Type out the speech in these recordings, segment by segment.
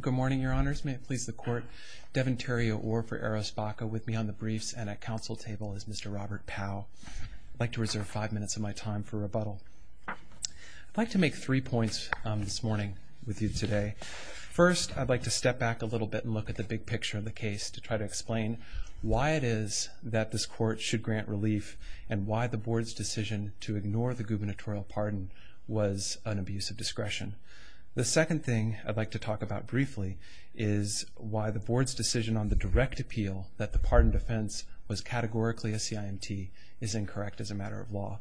Good morning, Your Honors. May it please the Court, Devin Terrio-Orr for Eros Baca with me on the briefs and at council table is Mr. Robert Powell. I'd like to reserve five minutes of my time for rebuttal. I'd like to make three points this morning with you today. First, I'd like to step back a little bit and look at the big picture of the case to try to explain why it is that this Court should grant relief and why the Board's decision to ignore the gubernatorial pardon was an abuse of discretion. The second thing I'd like to talk about briefly is why the Board's decision on the direct appeal that the pardon defense was categorically a CIMT is incorrect as a matter of law.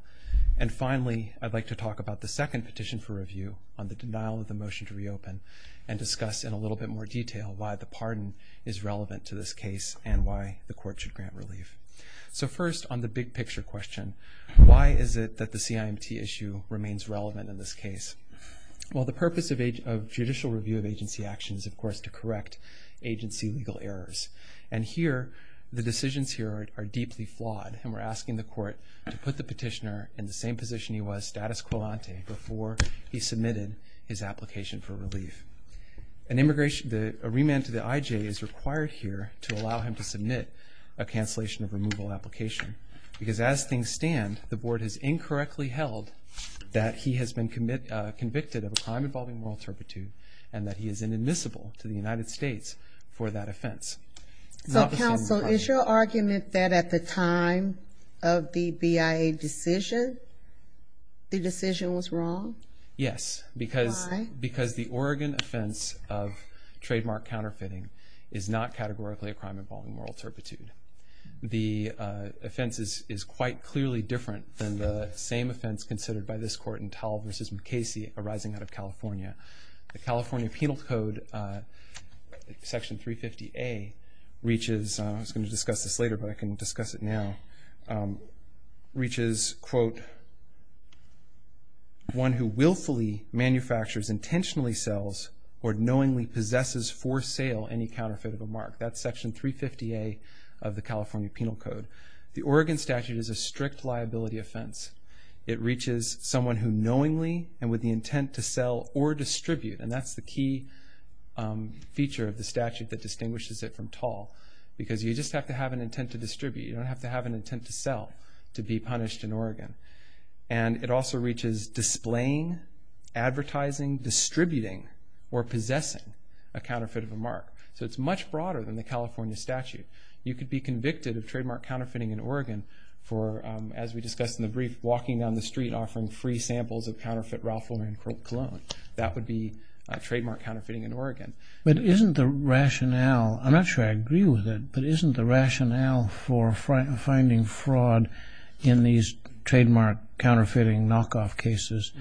And finally, I'd like to talk about the second petition for review on the denial of the motion to reopen and discuss in a little bit more detail why the pardon is relevant to this case and why the Court should grant relief. So first, on the big picture question, why is it that the CIMT issue remains relevant in this case? Well, the purpose of judicial review of agency action is, of course, to correct agency legal errors. And here, the decisions here are deeply flawed, and we're asking the Court to put the petitioner in the same position he was, status quo ante, before he submitted his application for relief. A remand to the IJ is required here to allow him to submit a cancellation of removal application because as things stand, the Board has incorrectly held that he has been convicted of a crime involving moral turpitude and that he is inadmissible to the United States for that offense. So, counsel, is your argument that at the time of the BIA decision, the decision was wrong? Yes, because the Oregon offense of trademark counterfeiting is not categorically a crime involving moral turpitude. The offense is quite clearly different than the same offense considered by this Court in Tall v. McCasey arising out of California. The California Penal Code, Section 350A, reaches, I was going to discuss this later, but I can discuss it now, reaches, quote, one who willfully manufactures, intentionally sells, That's Section 350A of the California Penal Code. The Oregon statute is a strict liability offense. It reaches someone who knowingly and with the intent to sell or distribute, and that's the key feature of the statute that distinguishes it from Tall, because you just have to have an intent to distribute. You don't have to have an intent to sell to be punished in Oregon. And it also reaches displaying, advertising, distributing, or possessing a counterfeit of a mark. So it's much broader than the California statute. You could be convicted of trademark counterfeiting in Oregon for, as we discussed in the brief, walking down the street offering free samples of counterfeit Ralph Lauren cologne. That would be trademark counterfeiting in Oregon. But isn't the rationale, I'm not sure I agree with it, but isn't the rationale for finding fraud in these trademark counterfeiting knockoff cases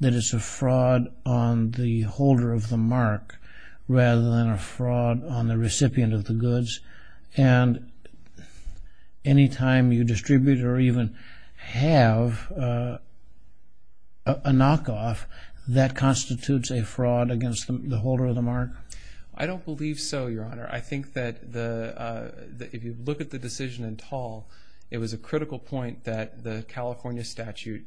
that it's a fraud on the holder of the mark rather than a fraud on the recipient of the goods? And any time you distribute or even have a knockoff, that constitutes a fraud against the holder of the mark? I don't believe so, Your Honor. I think that if you look at the decision in Tall, it was a critical point that the California statute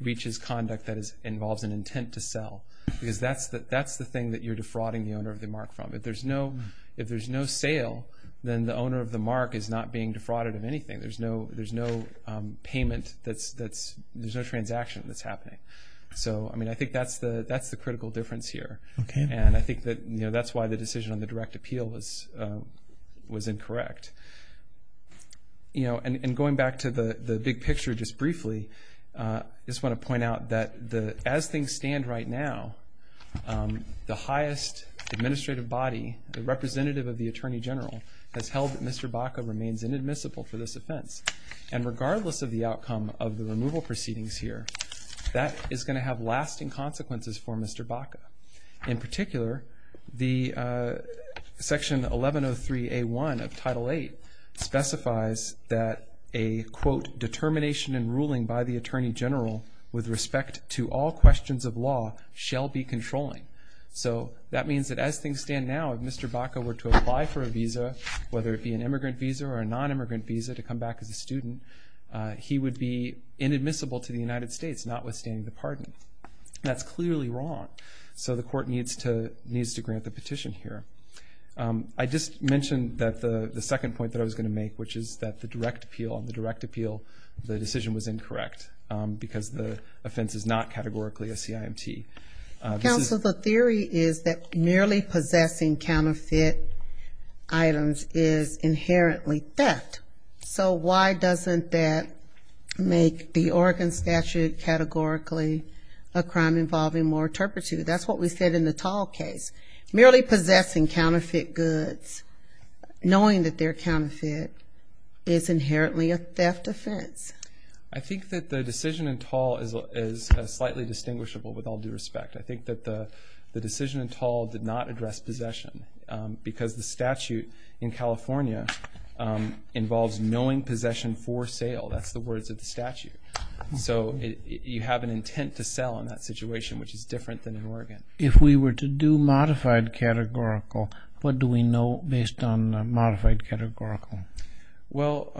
reaches conduct that involves an intent to sell, because that's the thing that you're defrauding the owner of the mark from. If there's no sale, then the owner of the mark is not being defrauded of anything. There's no payment that's, there's no transaction that's happening. So, I mean, I think that's the critical difference here. And I think that, you know, that's why the decision on the direct appeal was incorrect. You know, and going back to the big picture just briefly, I just want to point out that as things stand right now, the highest administrative body, the representative of the Attorney General, has held that Mr. Baca remains inadmissible for this offense. And regardless of the outcome of the removal proceedings here, that is going to have lasting consequences for Mr. Baca. In particular, the Section 1103A1 of Title VIII specifies that a, quote, determination and ruling by the Attorney General with respect to all questions of law shall be controlling. So that means that as things stand now, if Mr. Baca were to apply for a visa, whether it be an immigrant visa or a nonimmigrant visa to come back as a student, he would be inadmissible to the United States, notwithstanding the pardon. That's clearly wrong. So the court needs to grant the petition here. I just mentioned that the second point that I was going to make, which is that the direct appeal on the direct appeal, the decision was incorrect because the offense is not categorically a CIMT. Counsel, the theory is that merely possessing counterfeit items is inherently theft. So why doesn't that make the Oregon statute categorically a crime involving more turpitude? That's what we said in the Tall case. Merely possessing counterfeit goods, knowing that they're counterfeit, is inherently a theft offense. I think that the decision in Tall is slightly distinguishable with all due respect. I think that the decision in Tall did not address possession because the statute in California involves knowing possession for sale. That's the words of the statute. So you have an intent to sell in that situation, which is different than in Oregon. If we were to do modified categorical, what do we know based on modified categorical? Well,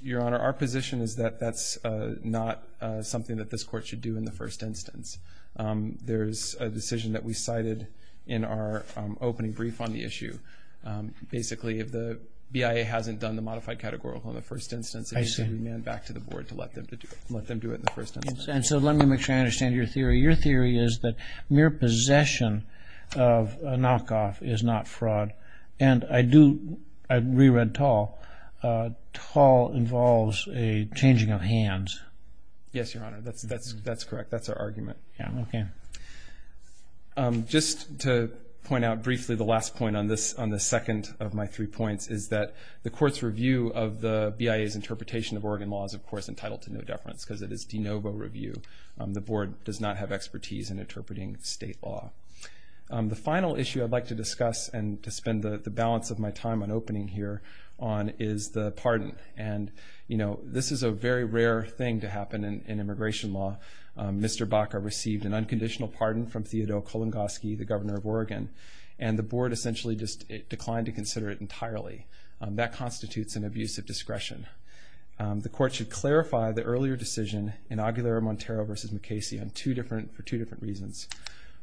Your Honor, our position is that that's not something that this court should do in the first instance. There's a decision that we cited in our opening brief on the issue. Basically, if the BIA hasn't done the modified categorical in the first instance, it needs to be manned back to the board to let them do it in the first instance. And so let me make sure I understand your theory. Your theory is that mere possession of a knockoff is not fraud. And I re-read Tall. Tall involves a changing of hands. Yes, Your Honor, that's correct. That's our argument. Okay. Just to point out briefly the last point on the second of my three points is that the court's review of the BIA's interpretation of Oregon law is, of course, entitled to no deference because it is de novo review. The board does not have expertise in interpreting state law. The final issue I'd like to discuss and to spend the balance of my time on opening here on is the pardon. And, you know, this is a very rare thing to happen in immigration law. Mr. Baca received an unconditional pardon from Theodore Kolongoski, the governor of Oregon, and the board essentially just declined to consider it entirely. That constitutes an abuse of discretion. The court should clarify the earlier decision in Aguilera-Montero v. McCasey for two different reasons.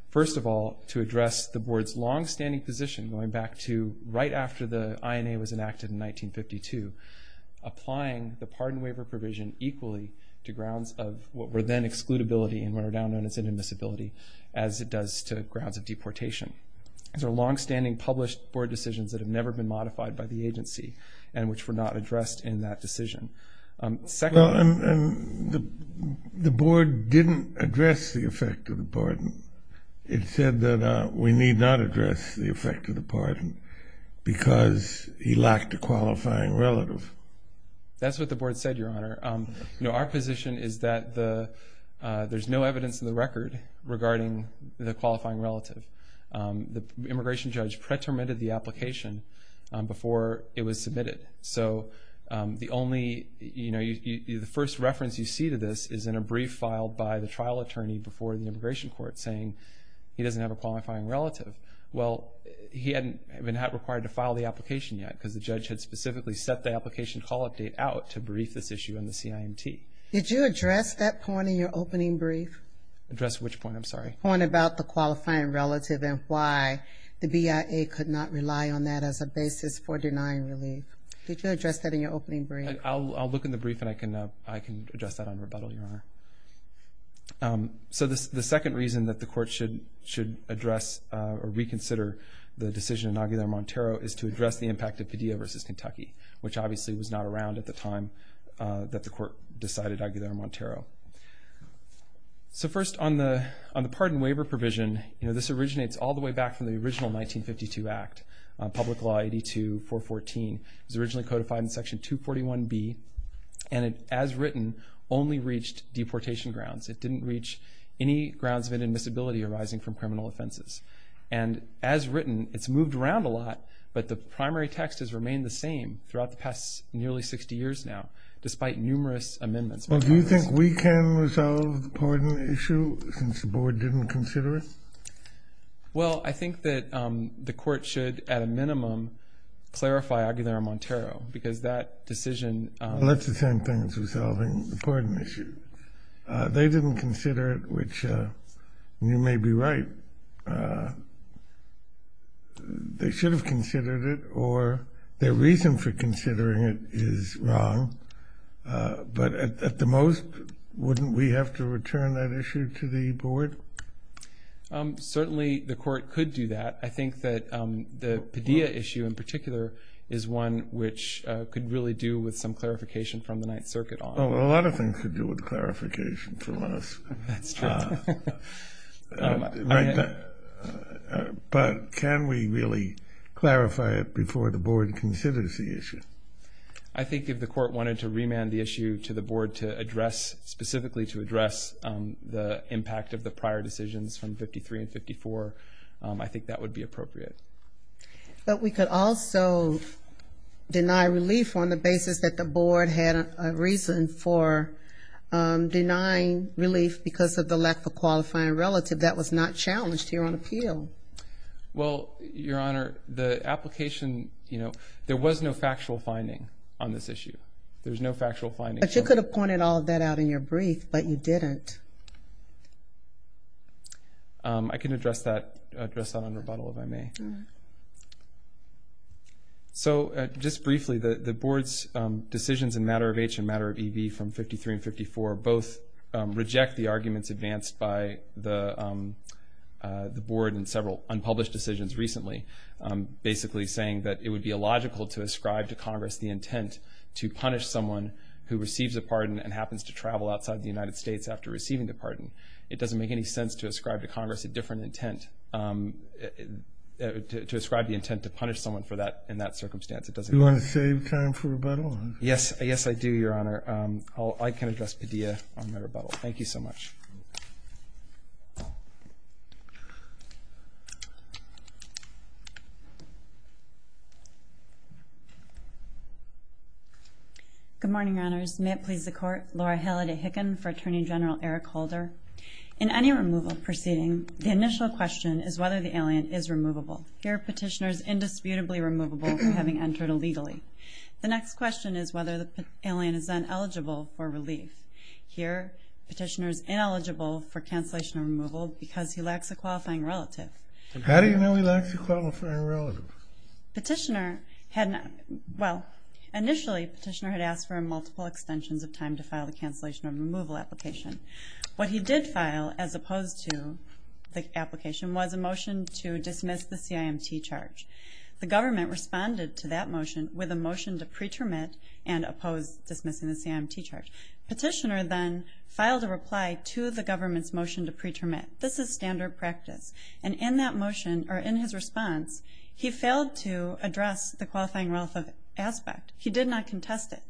First of all, to address the board's longstanding position going back to right after the INA was enacted in 1952, applying the pardon waiver provision equally to grounds of what were then excludability and what are now known as inadmissibility as it does to grounds of deportation. These are longstanding published board decisions that have never been modified by the agency and which were not addressed in that decision. Well, and the board didn't address the effect of the pardon. It said that we need not address the effect of the pardon because he lacked a qualifying relative. That's what the board said, Your Honor. You know, our position is that there's no evidence in the record regarding the qualifying relative. The immigration judge pretermined the application before it was submitted. So the only, you know, the first reference you see to this is in a brief filed by the trial attorney before the immigration court saying he doesn't have a qualifying relative. Well, he hadn't been required to file the application yet because the judge had specifically set the application call-up date out to brief this issue in the CIMT. Did you address that point in your opening brief? Address which point? I'm sorry. The point about the qualifying relative and why the BIA could not rely on that as a basis for denying relief. Did you address that in your opening brief? I'll look in the brief and I can address that on rebuttal, Your Honor. So the second reason that the court should address or reconsider the decision in Aguilar-Montero is to address the impact of Padilla v. Kentucky, which obviously was not around at the time that the court decided Aguilar-Montero. So first, on the pardon waiver provision, this originates all the way back from the original 1952 Act, Public Law 82-414. It was originally codified in Section 241B, and it, as written, only reached deportation grounds. It didn't reach any grounds of inadmissibility arising from criminal offenses. And as written, it's moved around a lot, but the primary text has remained the same throughout the past nearly 60 years now, despite numerous amendments. Well, do you think we can resolve the pardon issue since the board didn't consider it? Well, I think that the court should, at a minimum, clarify Aguilar-Montero because that decision... Well, that's the same thing as resolving the pardon issue. They didn't consider it, which you may be right. They should have considered it, or their reason for considering it is wrong, but at the most, wouldn't we have to return that issue to the board? Certainly the court could do that. I think that the Padilla issue in particular is one which could really do with some clarification from the Ninth Circuit on it. Oh, a lot of things could do with clarification from us. That's true. But can we really clarify it before the board considers the issue? I think if the court wanted to remand the issue to the board to address, specifically to address, the impact of the prior decisions from 53 and 54, I think that would be appropriate. But we could also deny relief on the basis that the board had a reason for denying relief because of the lack of qualifying relative that was not challenged here on appeal. Well, Your Honor, the application... There was no factual finding on this issue. There's no factual finding. But you could have pointed all of that out in your brief, but you didn't. I can address that on rebuttal if I may. So just briefly, the board's decisions in matter of H and matter of EB from 53 and 54 both reject the arguments advanced by the board in several unpublished decisions recently, basically saying that it would be illogical to ascribe to Congress the intent to punish someone who receives a pardon and happens to travel outside the United States after receiving the pardon. It doesn't make any sense to ascribe to Congress a different intent, to ascribe the intent to punish someone in that circumstance. Do you want to save time for rebuttal? Yes, I do, Your Honor. I can address Padilla on my rebuttal. Thank you so much. Good morning, Your Honors. May it please the Court. Laura Halliday Hicken for Attorney General Eric Holder. In any removal proceeding, the initial question is whether the alien is removable. Here, Petitioner is indisputably removable for having entered illegally. The next question is whether the alien is then eligible for relief. Here, Petitioner is ineligible for cancellation or removal because he lacks a qualifying relative. How do you know he lacks a qualifying relative? Petitioner had not, well, initially Petitioner had asked for multiple extensions of time to file the cancellation or removal application. What he did file, as opposed to the application, was a motion to dismiss the CIMT charge. The government responded to that motion with a motion to pre-termit and oppose dismissing the CIMT charge. Petitioner then filed a reply to the government's motion to pre-termit. This is standard practice. And in that motion, or in his response, he failed to address the qualifying relative aspect. He did not contest it.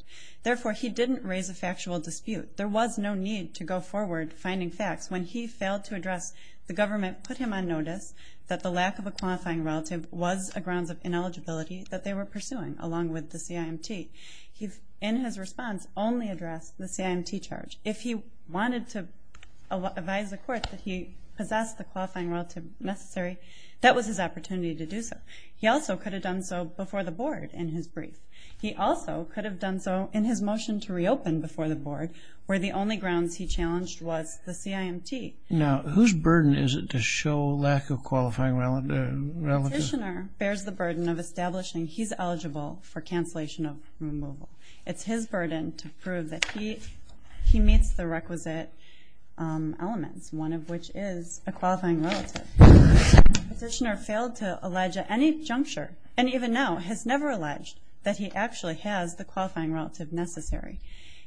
Therefore, he didn't raise a factual dispute. There was no need to go forward finding facts. When he failed to address, the government put him on notice that the lack of a qualifying relative was a grounds of ineligibility that they were pursuing, along with the CIMT. He, in his response, only addressed the CIMT charge. If he wanted to advise the court that he possessed the qualifying relative necessary, that was his opportunity to do so. He also could have done so before the board in his brief. He also could have done so in his motion to reopen before the board, where the only grounds he challenged was the CIMT. Now, whose burden is it to show lack of qualifying relative? The petitioner bears the burden of establishing he's eligible for cancellation of removal. It's his burden to prove that he meets the requisite elements, one of which is a qualifying relative. The petitioner failed to allege at any juncture, and even now, has never alleged that he actually has the qualifying relative necessary.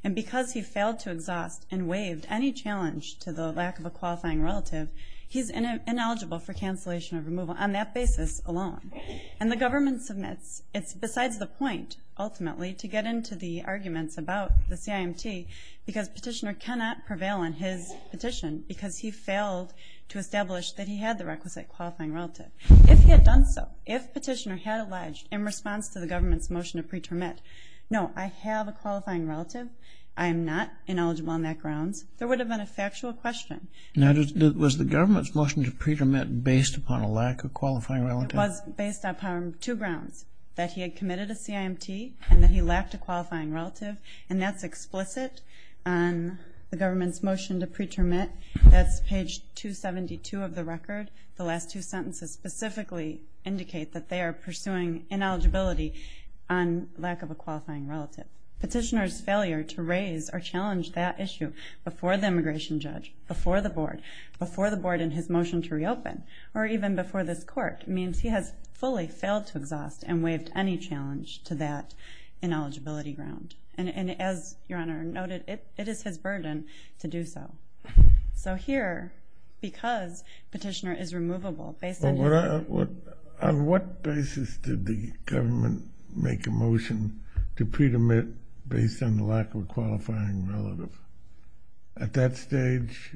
And because he failed to exhaust and waived any challenge to the lack of a qualifying relative, he's ineligible for cancellation of removal on that basis alone. And the government submits. It's besides the point, ultimately, to get into the arguments about the CIMT, because petitioner cannot prevail on his petition, because he failed to establish that he had the requisite qualifying relative. If he had done so, if petitioner had alleged in response to the government's motion to pretermit, no, I have a qualifying relative. I am not ineligible on that grounds. There would have been a factual question. Now, was the government's motion to pretermit based upon a lack of qualifying relative? It was based upon two grounds, that he had committed a CIMT and that he lacked a qualifying relative. And that's explicit on the government's motion to pretermit. That's page 272 of the record. The last two sentences specifically indicate that they are pursuing ineligibility on lack of a qualifying relative. Petitioner's failure to raise or challenge that issue before the immigration judge, before the board, before the board in his motion to reopen, or even before this court, means he has fully failed to exhaust and waived any challenge to that ineligibility ground. And as Your Honor noted, it is his burden to do so. So here, because petitioner is removable, based on... On what basis did the government make a motion to pretermit based on the lack of a qualifying relative? At that stage,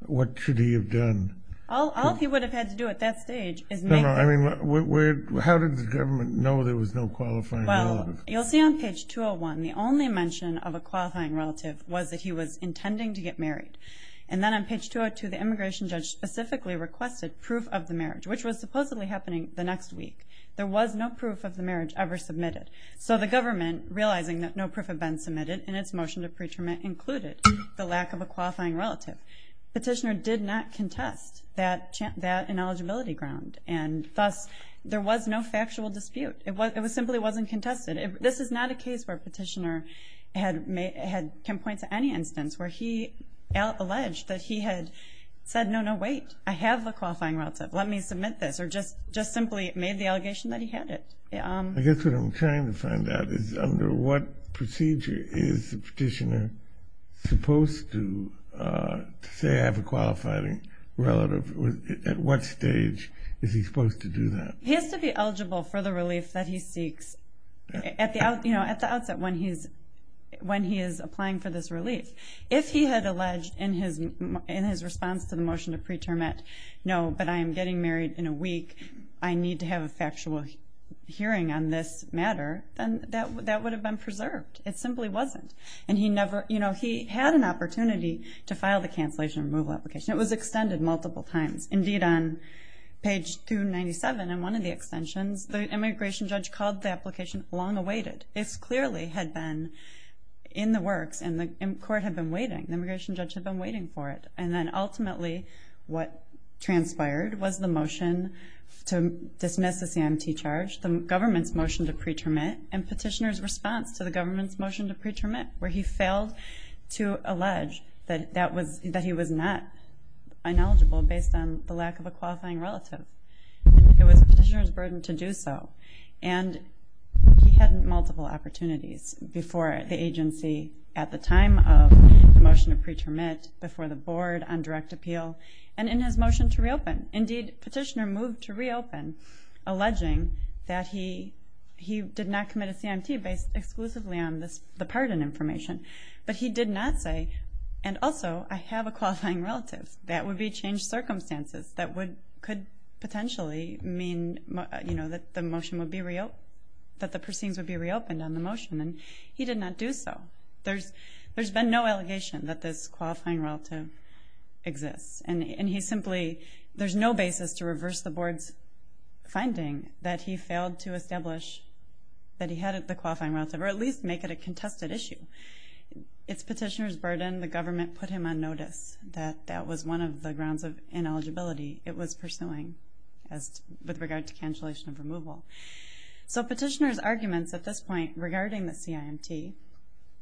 what should he have done? All he would have had to do at that stage is make... No, no, I mean, how did the government know there was no qualifying relative? Well, you'll see on page 201, the only mention of a qualifying relative was that he was intending to get married. And then on page 202, the immigration judge specifically requested proof of the marriage, which was supposedly happening the next week. There was no proof of the marriage ever submitted. So the government, realizing that no proof had been submitted in its motion to pretermit, included the lack of a qualifying relative. Petitioner did not contest that ineligibility ground, and thus there was no factual dispute. It simply wasn't contested. This is not a case where a petitioner can point to any instance where he alleged that he had said, no, no, wait, I have a qualifying relative, let me submit this, or just simply made the allegation that he had it. I guess what I'm trying to find out is under what procedure is the petitioner supposed to say I have a qualifying relative? At what stage is he supposed to do that? He has to be eligible for the relief that he seeks at the outset when he is applying for this relief. If he had alleged in his response to the motion to pretermit, no, but I am getting married in a week, I need to have a factual hearing on this matter, then that would have been preserved. It simply wasn't. And he had an opportunity to file the cancellation removal application. It was extended multiple times. Indeed, on page 297 in one of the extensions, the immigration judge called the application long awaited. It clearly had been in the works, and the court had been waiting. The immigration judge had been waiting for it. And then ultimately what transpired was the motion to dismiss the CMT charge, the government's motion to pretermit, and petitioner's response to the government's motion to pretermit where he failed to allege that he was not ineligible based on the lack of a qualifying relative. It was petitioner's burden to do so. And he had multiple opportunities before the agency at the time of the motion to pretermit, before the board on direct appeal, and in his motion to reopen. Indeed, petitioner moved to reopen, alleging that he did not commit a CMT based exclusively on the pardon information. But he did not say, and also, I have a qualifying relative. That would be changed circumstances. That could potentially mean that the motion would be reopened, that the proceedings would be reopened on the motion. And he did not do so. There's been no allegation that this qualifying relative exists. And he simply, there's no basis to reverse the board's finding that he failed to establish that he had the qualifying relative, or at least make it a contested issue. It's petitioner's burden. The government put him on notice that that was one of the grounds of ineligibility it was pursuing as, with regard to cancellation of removal. So petitioner's arguments at this point regarding the CIMT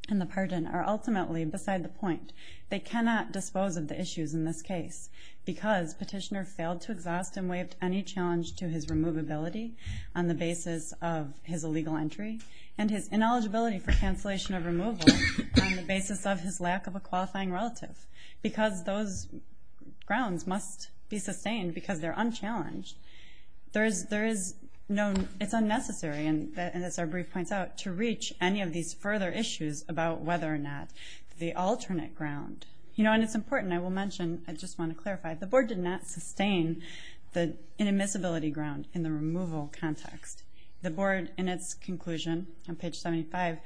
and the pardon are ultimately beside the point. They cannot dispose of the issues in this case, because petitioner failed to exhaust and waive any challenge to his removability on the basis of his illegal entry and his ineligibility for cancellation of removal on the basis of his lack of a qualifying relative. Because those grounds must be sustained, because they're unchallenged. There is no, it's unnecessary, and as our brief points out, to reach any of these further issues about whether or not the alternate ground, you know, and it's important, I will mention, I just want to clarify, the board did not sustain the inadmissibility ground in the removal context. The board, in its conclusion on page 75,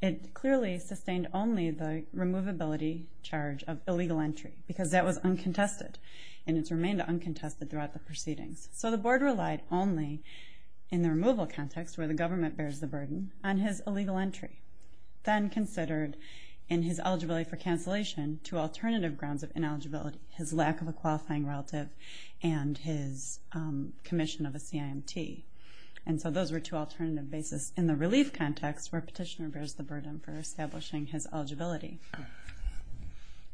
it clearly sustained only the removability charge of illegal entry, because that was uncontested, and it's remained uncontested throughout the proceedings. So the board relied only in the removal context, where the government bears the burden, on his illegal entry. Then considered in his eligibility for cancellation two alternative grounds of ineligibility, his lack of a qualifying relative and his commission of a CIMT. And so those were two alternative bases in the relief context, where a petitioner bears the burden for establishing his eligibility.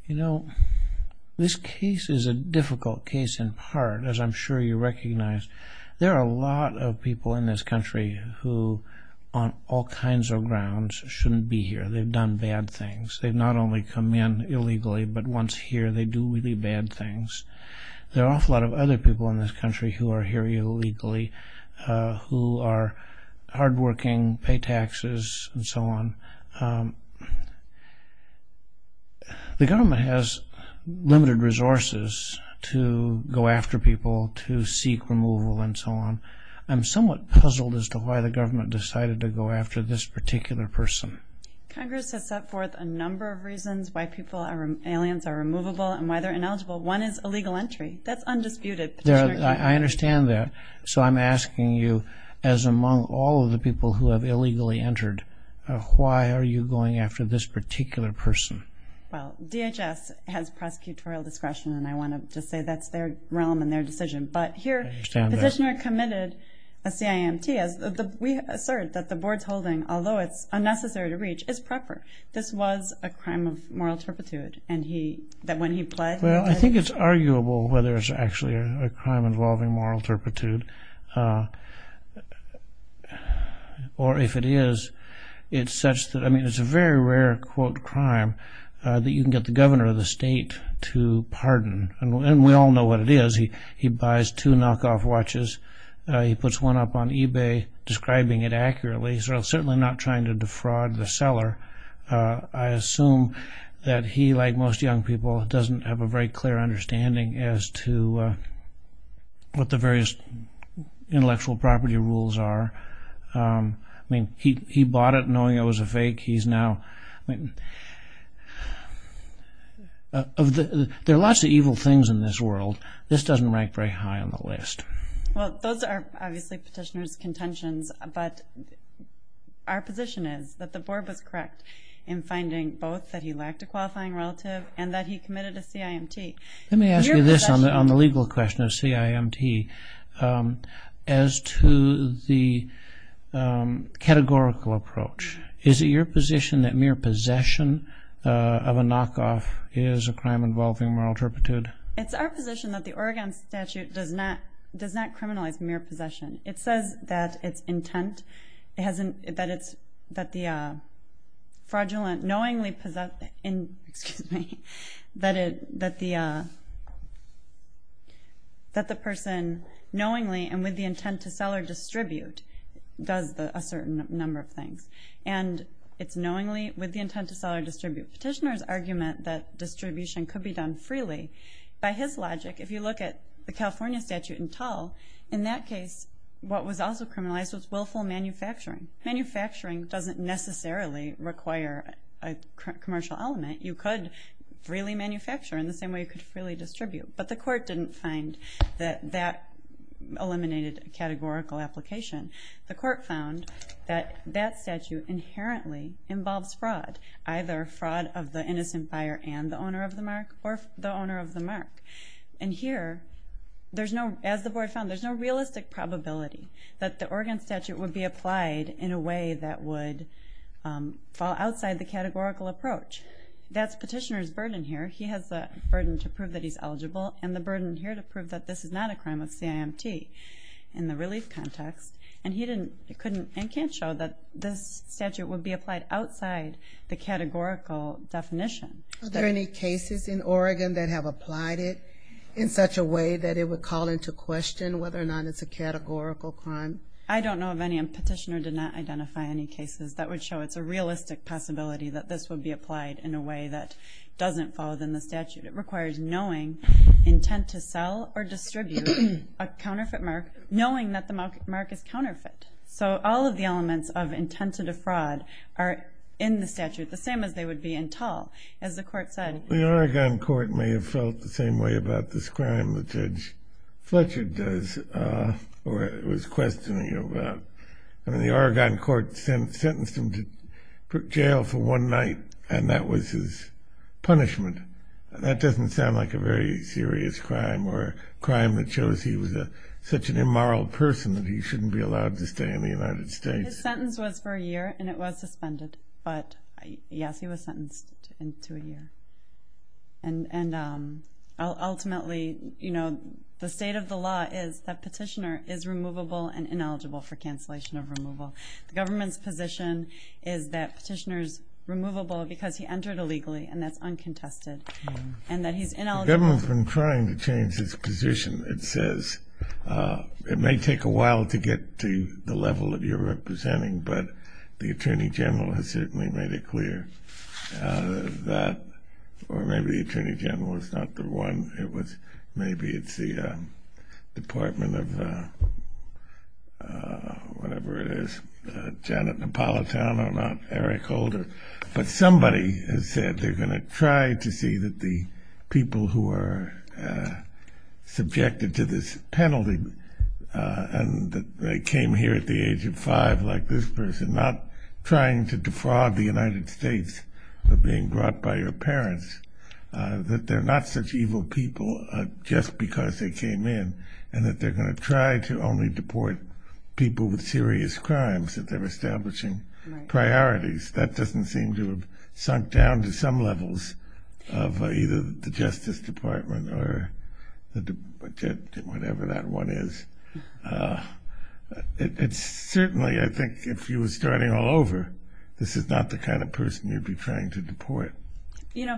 You know, this case is a difficult case in part, as I'm sure you recognize. There are a lot of people in this country who, on all kinds of grounds, shouldn't be here. They've done bad things. They've not only come in illegally, but once here they do really bad things. There are an awful lot of other people in this country who are here illegally, who are hardworking, pay taxes, and so on. The government has limited resources to go after people, to seek removal, and so on. I'm somewhat puzzled as to why the government decided to go after this particular person. Congress has set forth a number of reasons why people are aliens are removable and why they're ineligible. One is illegal entry. That's undisputed. I understand that. So I'm asking you, as among all of the people who have illegally entered, why are you going after this particular person? Well, DHS has prosecutorial discretion, and I want to just say that's their realm and their decision. But here, the petitioner committed a CIMT. We assert that the board's holding, although it's unnecessary to reach, is proper. This was a crime of moral turpitude, and that when he pled... Well, I think it's arguable whether it's actually a crime involving moral turpitude. Or if it is, it's such that... I mean, it's a very rare, quote, crime that you can get the governor of the state to pardon. And we all know what it is. He buys two knockoff watches. He puts one up on eBay describing it accurately. He's certainly not trying to defraud the seller. I assume that he, like most young people, doesn't have a very clear understanding as to what the various intellectual property rules are. I mean, he bought it knowing it was a fake. He's now... There are lots of evil things in this world. This doesn't rank very high on the list. Well, those are obviously petitioner's contentions, but our position is that the board was correct in finding both that he lacked a qualifying relative and that he committed a CIMT. Let me ask you this on the legal question of CIMT. As to the categorical approach, is it your position that mere possession of a knockoff is a crime involving moral turpitude? It's our position that the Oregon statute does not criminalize mere possession. It says that its intent... fraudulent, knowingly possess... Excuse me. That the person knowingly and with the intent to sell or distribute does a certain number of things. And it's knowingly with the intent to sell or distribute. Petitioner's argument that distribution could be done freely, by his logic, if you look at the California statute in Tull, in that case, what was also criminalized was willful manufacturing. Manufacturing doesn't necessarily require a commercial element. You could freely manufacture in the same way you could freely distribute. But the court didn't find that that eliminated a categorical application. The court found that that statute inherently involves fraud, either fraud of the innocent buyer and the owner of the mark, or the owner of the mark. And here, as the board found, there's no realistic probability that the Oregon statute would be applied in a way that would fall outside the categorical approach. That's petitioner's burden here. He has the burden to prove that he's eligible and the burden here to prove that this is not a crime of CIMT in the relief context. And he couldn't and can't show that this statute would be applied outside the categorical definition. Are there any cases in Oregon that have applied it in such a way that it would call into question whether or not it's a categorical crime? I don't know of any. A petitioner did not identify any cases that would show it's a realistic possibility that this would be applied in a way that doesn't fall within the statute. It requires knowing intent to sell or distribute a counterfeit mark, knowing that the mark is counterfeit. So all of the elements of intent to defraud are in the statute, the same as they would be in tall, as the court said. The Oregon court may have felt the same way about this crime, as Judge Fletcher was questioning about. The Oregon court sentenced him to jail for one night and that was his punishment. That doesn't sound like a very serious crime or a crime that shows he was such an immoral person that he shouldn't be allowed to stay in the United States. His sentence was for a year and it was suspended. But yes, he was sentenced to a year. And ultimately, the state of the law is that petitioner is removable and ineligible for cancellation of removal. The government's position is that petitioner's removable because he entered illegally and that's uncontested. The government's been trying to change its position, it says. It may take a while to get to the level that you're representing, but the Attorney General has certainly made it clear that, or maybe the Attorney General is not the one. Maybe it's the Department of whatever it is, Janet Napolitano, not Eric Holder. But somebody has said they're going to try to see that the people who are subjected to this penalty and that they came here at the age of five like this person, not trying to defraud the United States of being brought by your parents, that they're not such evil people just because they came in and that they're going to try to only deport people with serious crimes that they're establishing priorities. That doesn't seem to have sunk down to some levels of either the Justice Department or whatever that one is. Certainly, I think if you were starting all over, this is not the kind of person you'd be trying to deport.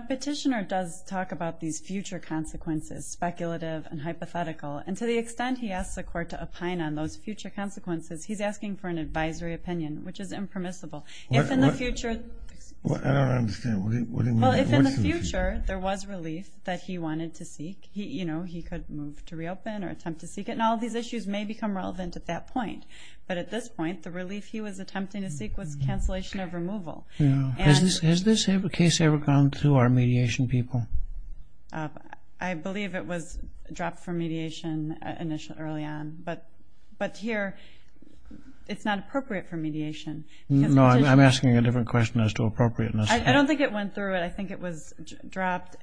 Petitioner does talk about these future consequences, speculative and hypothetical, and to the extent he asks the court to opine on those future consequences, he's asking for an advisory opinion, which is impermissible. If in the future... I don't understand. If in the future there was relief that he wanted to seek, he could move to reopen or attempt to seek it. And all these issues may become relevant at that point. But at this point, the relief he was attempting to seek was cancellation of removal. Has this case ever gone through our mediation people? I believe it was dropped from mediation early on. But here, it's not appropriate for mediation. No, I'm asking a different question as to appropriateness. I don't think it went through. I think it was dropped.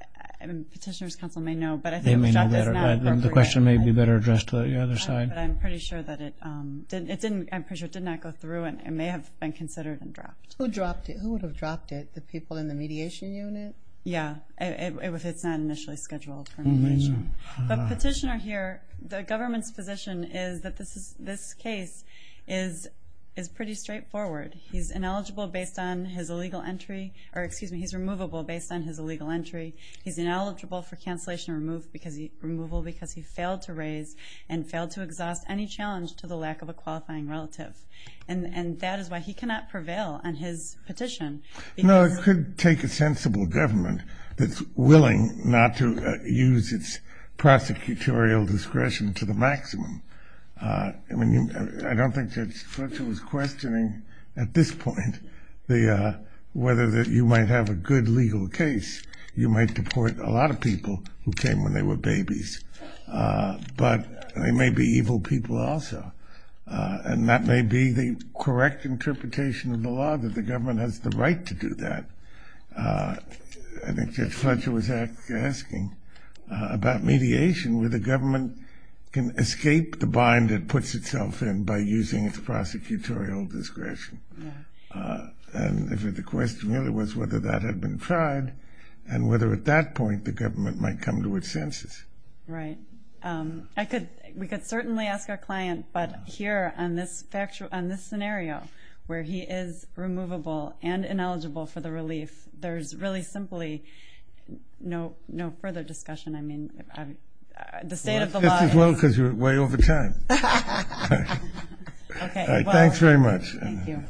Petitioner's counsel may know, but I think it was dropped as not appropriate. The question may be better addressed to the other side. I'm pretty sure it did not go through and may have been considered and dropped. Who would have dropped it? The people in the mediation unit? Yeah, if it's not initially scheduled for mediation. The petitioner here, the government's position is that this case is pretty straightforward. He's ineligible based on his illegal entry. Or excuse me, he's removable based on his illegal entry. He's ineligible for cancellation removed because he failed to raise and failed to exhaust any challenge to the lack of a qualifying relative. And that is why he cannot prevail on his petition. No, it could take a sensible government that's willing not to use its prosecutorial discretion to the maximum. I don't think that Fletcher was questioning at this point whether you might have a good legal case. You might deport a lot of people who came when they were babies. But they may be evil people also. And that may be the correct interpretation of the law, that the government has the right to do that. I think Judge Fletcher was asking about mediation, where the government can escape the bind it puts itself in by using its prosecutorial discretion. And if the question really was whether that had been tried, and whether at that point the government might come to its senses. Right. We could certainly ask our client. But here on this scenario where he is removable and ineligible for the relief, there's really simply no further discussion. I mean, the state of the law is. Well, that's just as well because you're way over time. Thanks very much. Thank you.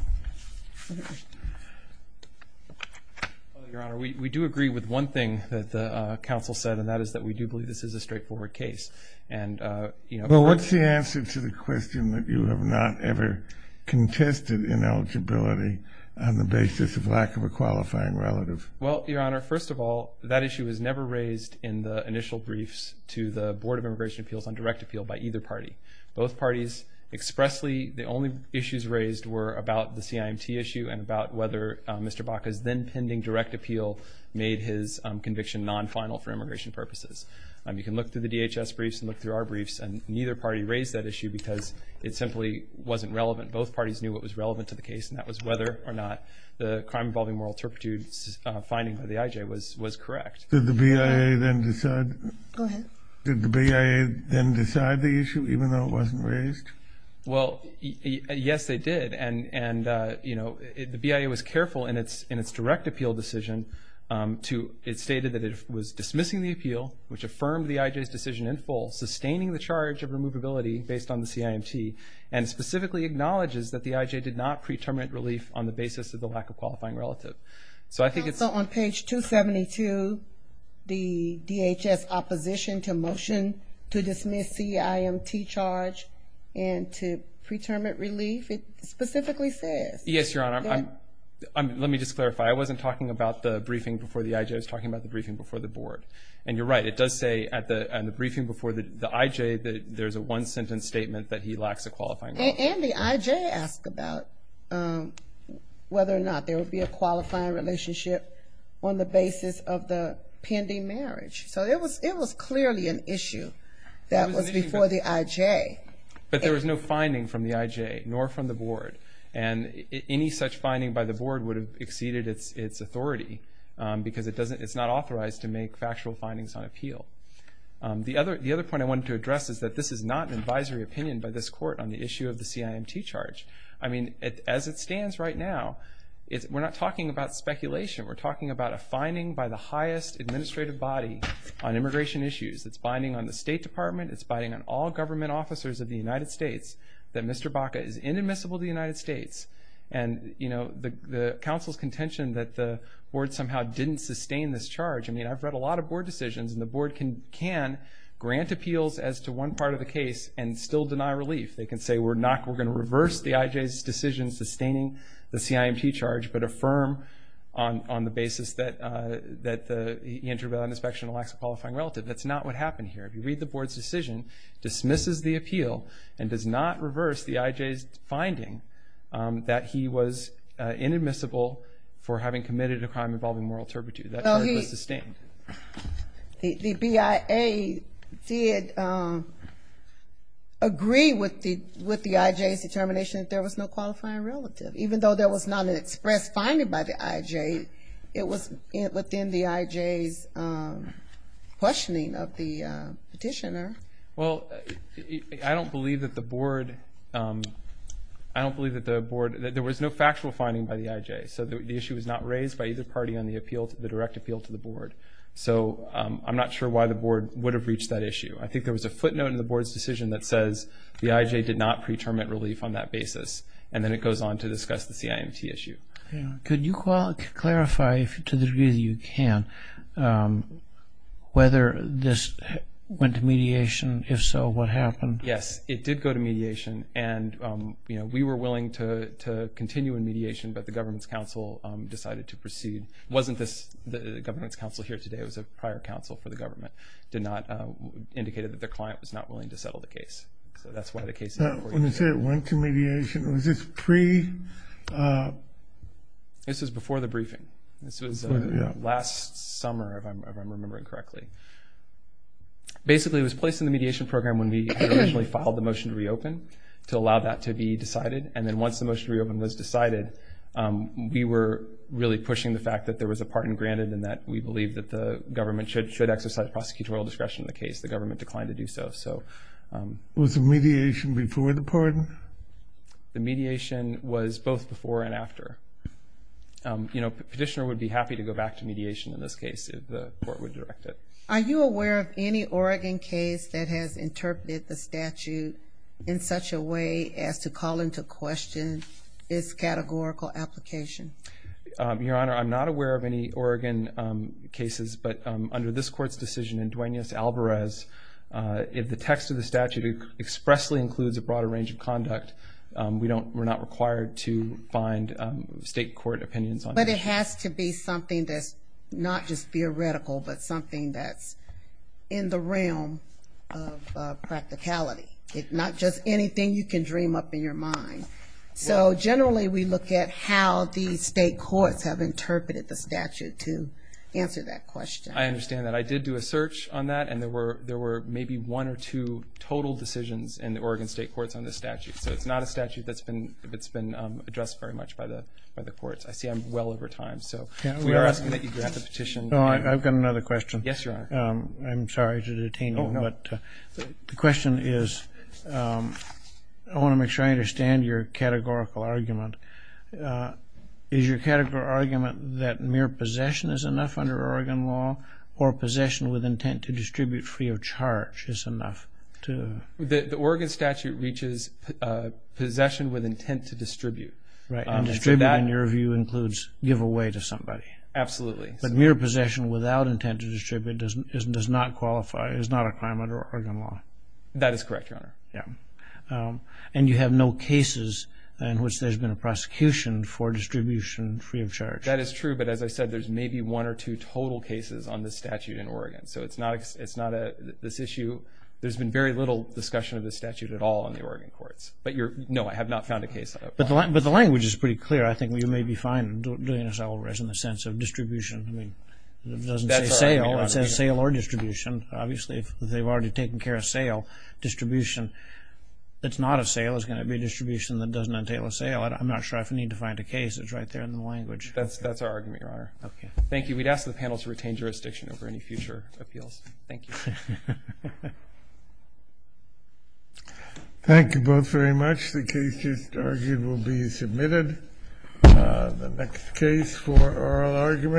Well, Your Honor, we do agree with one thing that the counsel said. And that is that we do believe this is a straightforward case. And, you know, Well, what's the answer to the question that you have not ever contested ineligibility on the basis of lack of a qualifying relative? Well, Your Honor, first of all, that issue was never raised in the initial briefs to the Board of Immigration Appeals on direct appeal by either party. Both parties expressly, the only issues raised were about the CIMT issue and about whether Mr. Baca's then pending direct appeal made his conviction non-final for immigration purposes. You can look through the DHS briefs and look through our briefs, and neither party raised that issue because it simply wasn't relevant. Both parties knew what was relevant to the case, and that was whether or not the crime-involving moral turpitude finding by the IJ was correct. Did the BIA then decide the issue even though it wasn't raised? Well, yes, they did. The BIA was careful in its direct appeal decision. It stated that it was dismissing the appeal, which affirmed the IJ's decision in full, sustaining the charge of removability based on the CIMT, and specifically acknowledges that the IJ did not pre-terminate relief on the basis of the lack of qualifying relative. Also on page 272, the DHS opposition to motion to dismiss CIMT charge and to pre-terminate relief, it specifically says. Yes, Your Honor. Let me just clarify. I wasn't talking about the briefing before the IJ. I was talking about the briefing before the board, and you're right. It does say in the briefing before the IJ that there's a one-sentence statement that he lacks a qualifying relative. And the IJ asked about whether or not there would be a qualifying relationship on the basis of the pending marriage. So it was clearly an issue that was before the IJ. But there was no finding from the IJ, nor from the board, and any such finding by the board would have exceeded its authority because it's not authorized to make factual findings on appeal. The other point I wanted to address is that this is not an advisory opinion by this court on the issue of the CIMT charge. I mean, as it stands right now, we're not talking about speculation. We're talking about a finding by the highest administrative body on immigration issues. It's binding on the State Department. It's binding on all government officers of the United States that Mr. Baca is inadmissible to the United States. And, you know, the counsel's contention that the board somehow didn't sustain this charge. I mean, I've read a lot of board decisions, and the board can grant appeals as to one part of the case and still deny relief. They can say, we're going to reverse the IJ's decision sustaining the CIMT charge, but affirm on the basis that he entered without an inspection and lacks a qualifying relative. That's not what happened here. If you read the board's decision, dismisses the appeal, and does not reverse the IJ's finding that he was inadmissible for having committed a crime involving moral turpitude. That charge was sustained. The BIA did agree with the IJ's determination that there was no qualifying relative. Even though there was not an express finding by the IJ, it was within the IJ's questioning of the petitioner. Well, I don't believe that the board... I don't believe that the board... There was no factual finding by the IJ, so the issue was not raised by either party on the direct appeal to the board. So I'm not sure why the board would have reached that issue. I think there was a footnote in the board's decision that says the IJ did not pre-term at relief on that basis, and then it goes on to discuss the CIMT issue. Could you clarify, to the degree that you can, whether this went to mediation? If so, what happened? Yes, it did go to mediation, and we were willing to continue in mediation, but the government's counsel decided to proceed. It wasn't the government's counsel here today. It was a prior counsel for the government. It indicated that their client was not willing to settle the case. So that's why the case... When you say it went to mediation, was this pre...? This was before the briefing. This was last summer, if I'm remembering correctly. Basically, it was placed in the mediation program when we originally filed the motion to reopen to allow that to be decided, and then once the motion to reopen was decided, we were really pushing the fact that there was a pardon granted and that we believe that the government should exercise prosecutorial discretion in the case. The government declined to do so. Was the mediation before the pardon? The mediation was both before and after. The petitioner would be happy to go back to mediation in this case if the court would direct it. Are you aware of any Oregon case that has interpreted the statute in such a way as to call into question its categorical application? Your Honor, I'm not aware of any Oregon cases, but under this court's decision in Duaneus Alvarez, if the text of the statute expressly includes a broader range of conduct, we're not required to find state court opinions on it. But it has to be something that's not just theoretical, but something that's in the realm of practicality, not just anything you can dream up in your mind. So generally, we look at how the state courts have interpreted the statute to answer that question. I understand that. I did do a search on that, and there were maybe one or two total decisions in the Oregon state courts on this statute. So it's not a statute that's been addressed very much by the courts. I see I'm well over time. So we are asking that you grant the petition. I've got another question. Yes, Your Honor. I'm sorry to detain you, but the question is I want to make sure I understand your categorical argument. Is your categorical argument that mere possession is enough under Oregon law or possession with intent to distribute free of charge is enough? The Oregon statute reaches possession with intent to distribute. Distribute, in your view, includes give away to somebody. Absolutely. But mere possession without intent to distribute does not qualify, That is correct, Your Honor. And you have no cases in which there's been a prosecution for distribution free of charge. That is true, but as I said, there's maybe one or two total cases on this statute in Oregon. So it's not this issue. There's been very little discussion of this statute at all in the Oregon courts. No, I have not found a case of that. But the language is pretty clear. I think you may be fine doing this, Alvarez, in the sense of distribution. It doesn't say sale. It says sale or distribution. Obviously, they've already taken care of sale, distribution. It's not a sale. It's going to be a distribution that doesn't entail a sale. I'm not sure I need to find a case. It's right there in the language. That's our argument, Your Honor. Okay. Thank you. We'd ask the panel to retain jurisdiction over any future appeals. Thank you. Thank you both very much. The cases argued will be submitted. The next case for oral argument.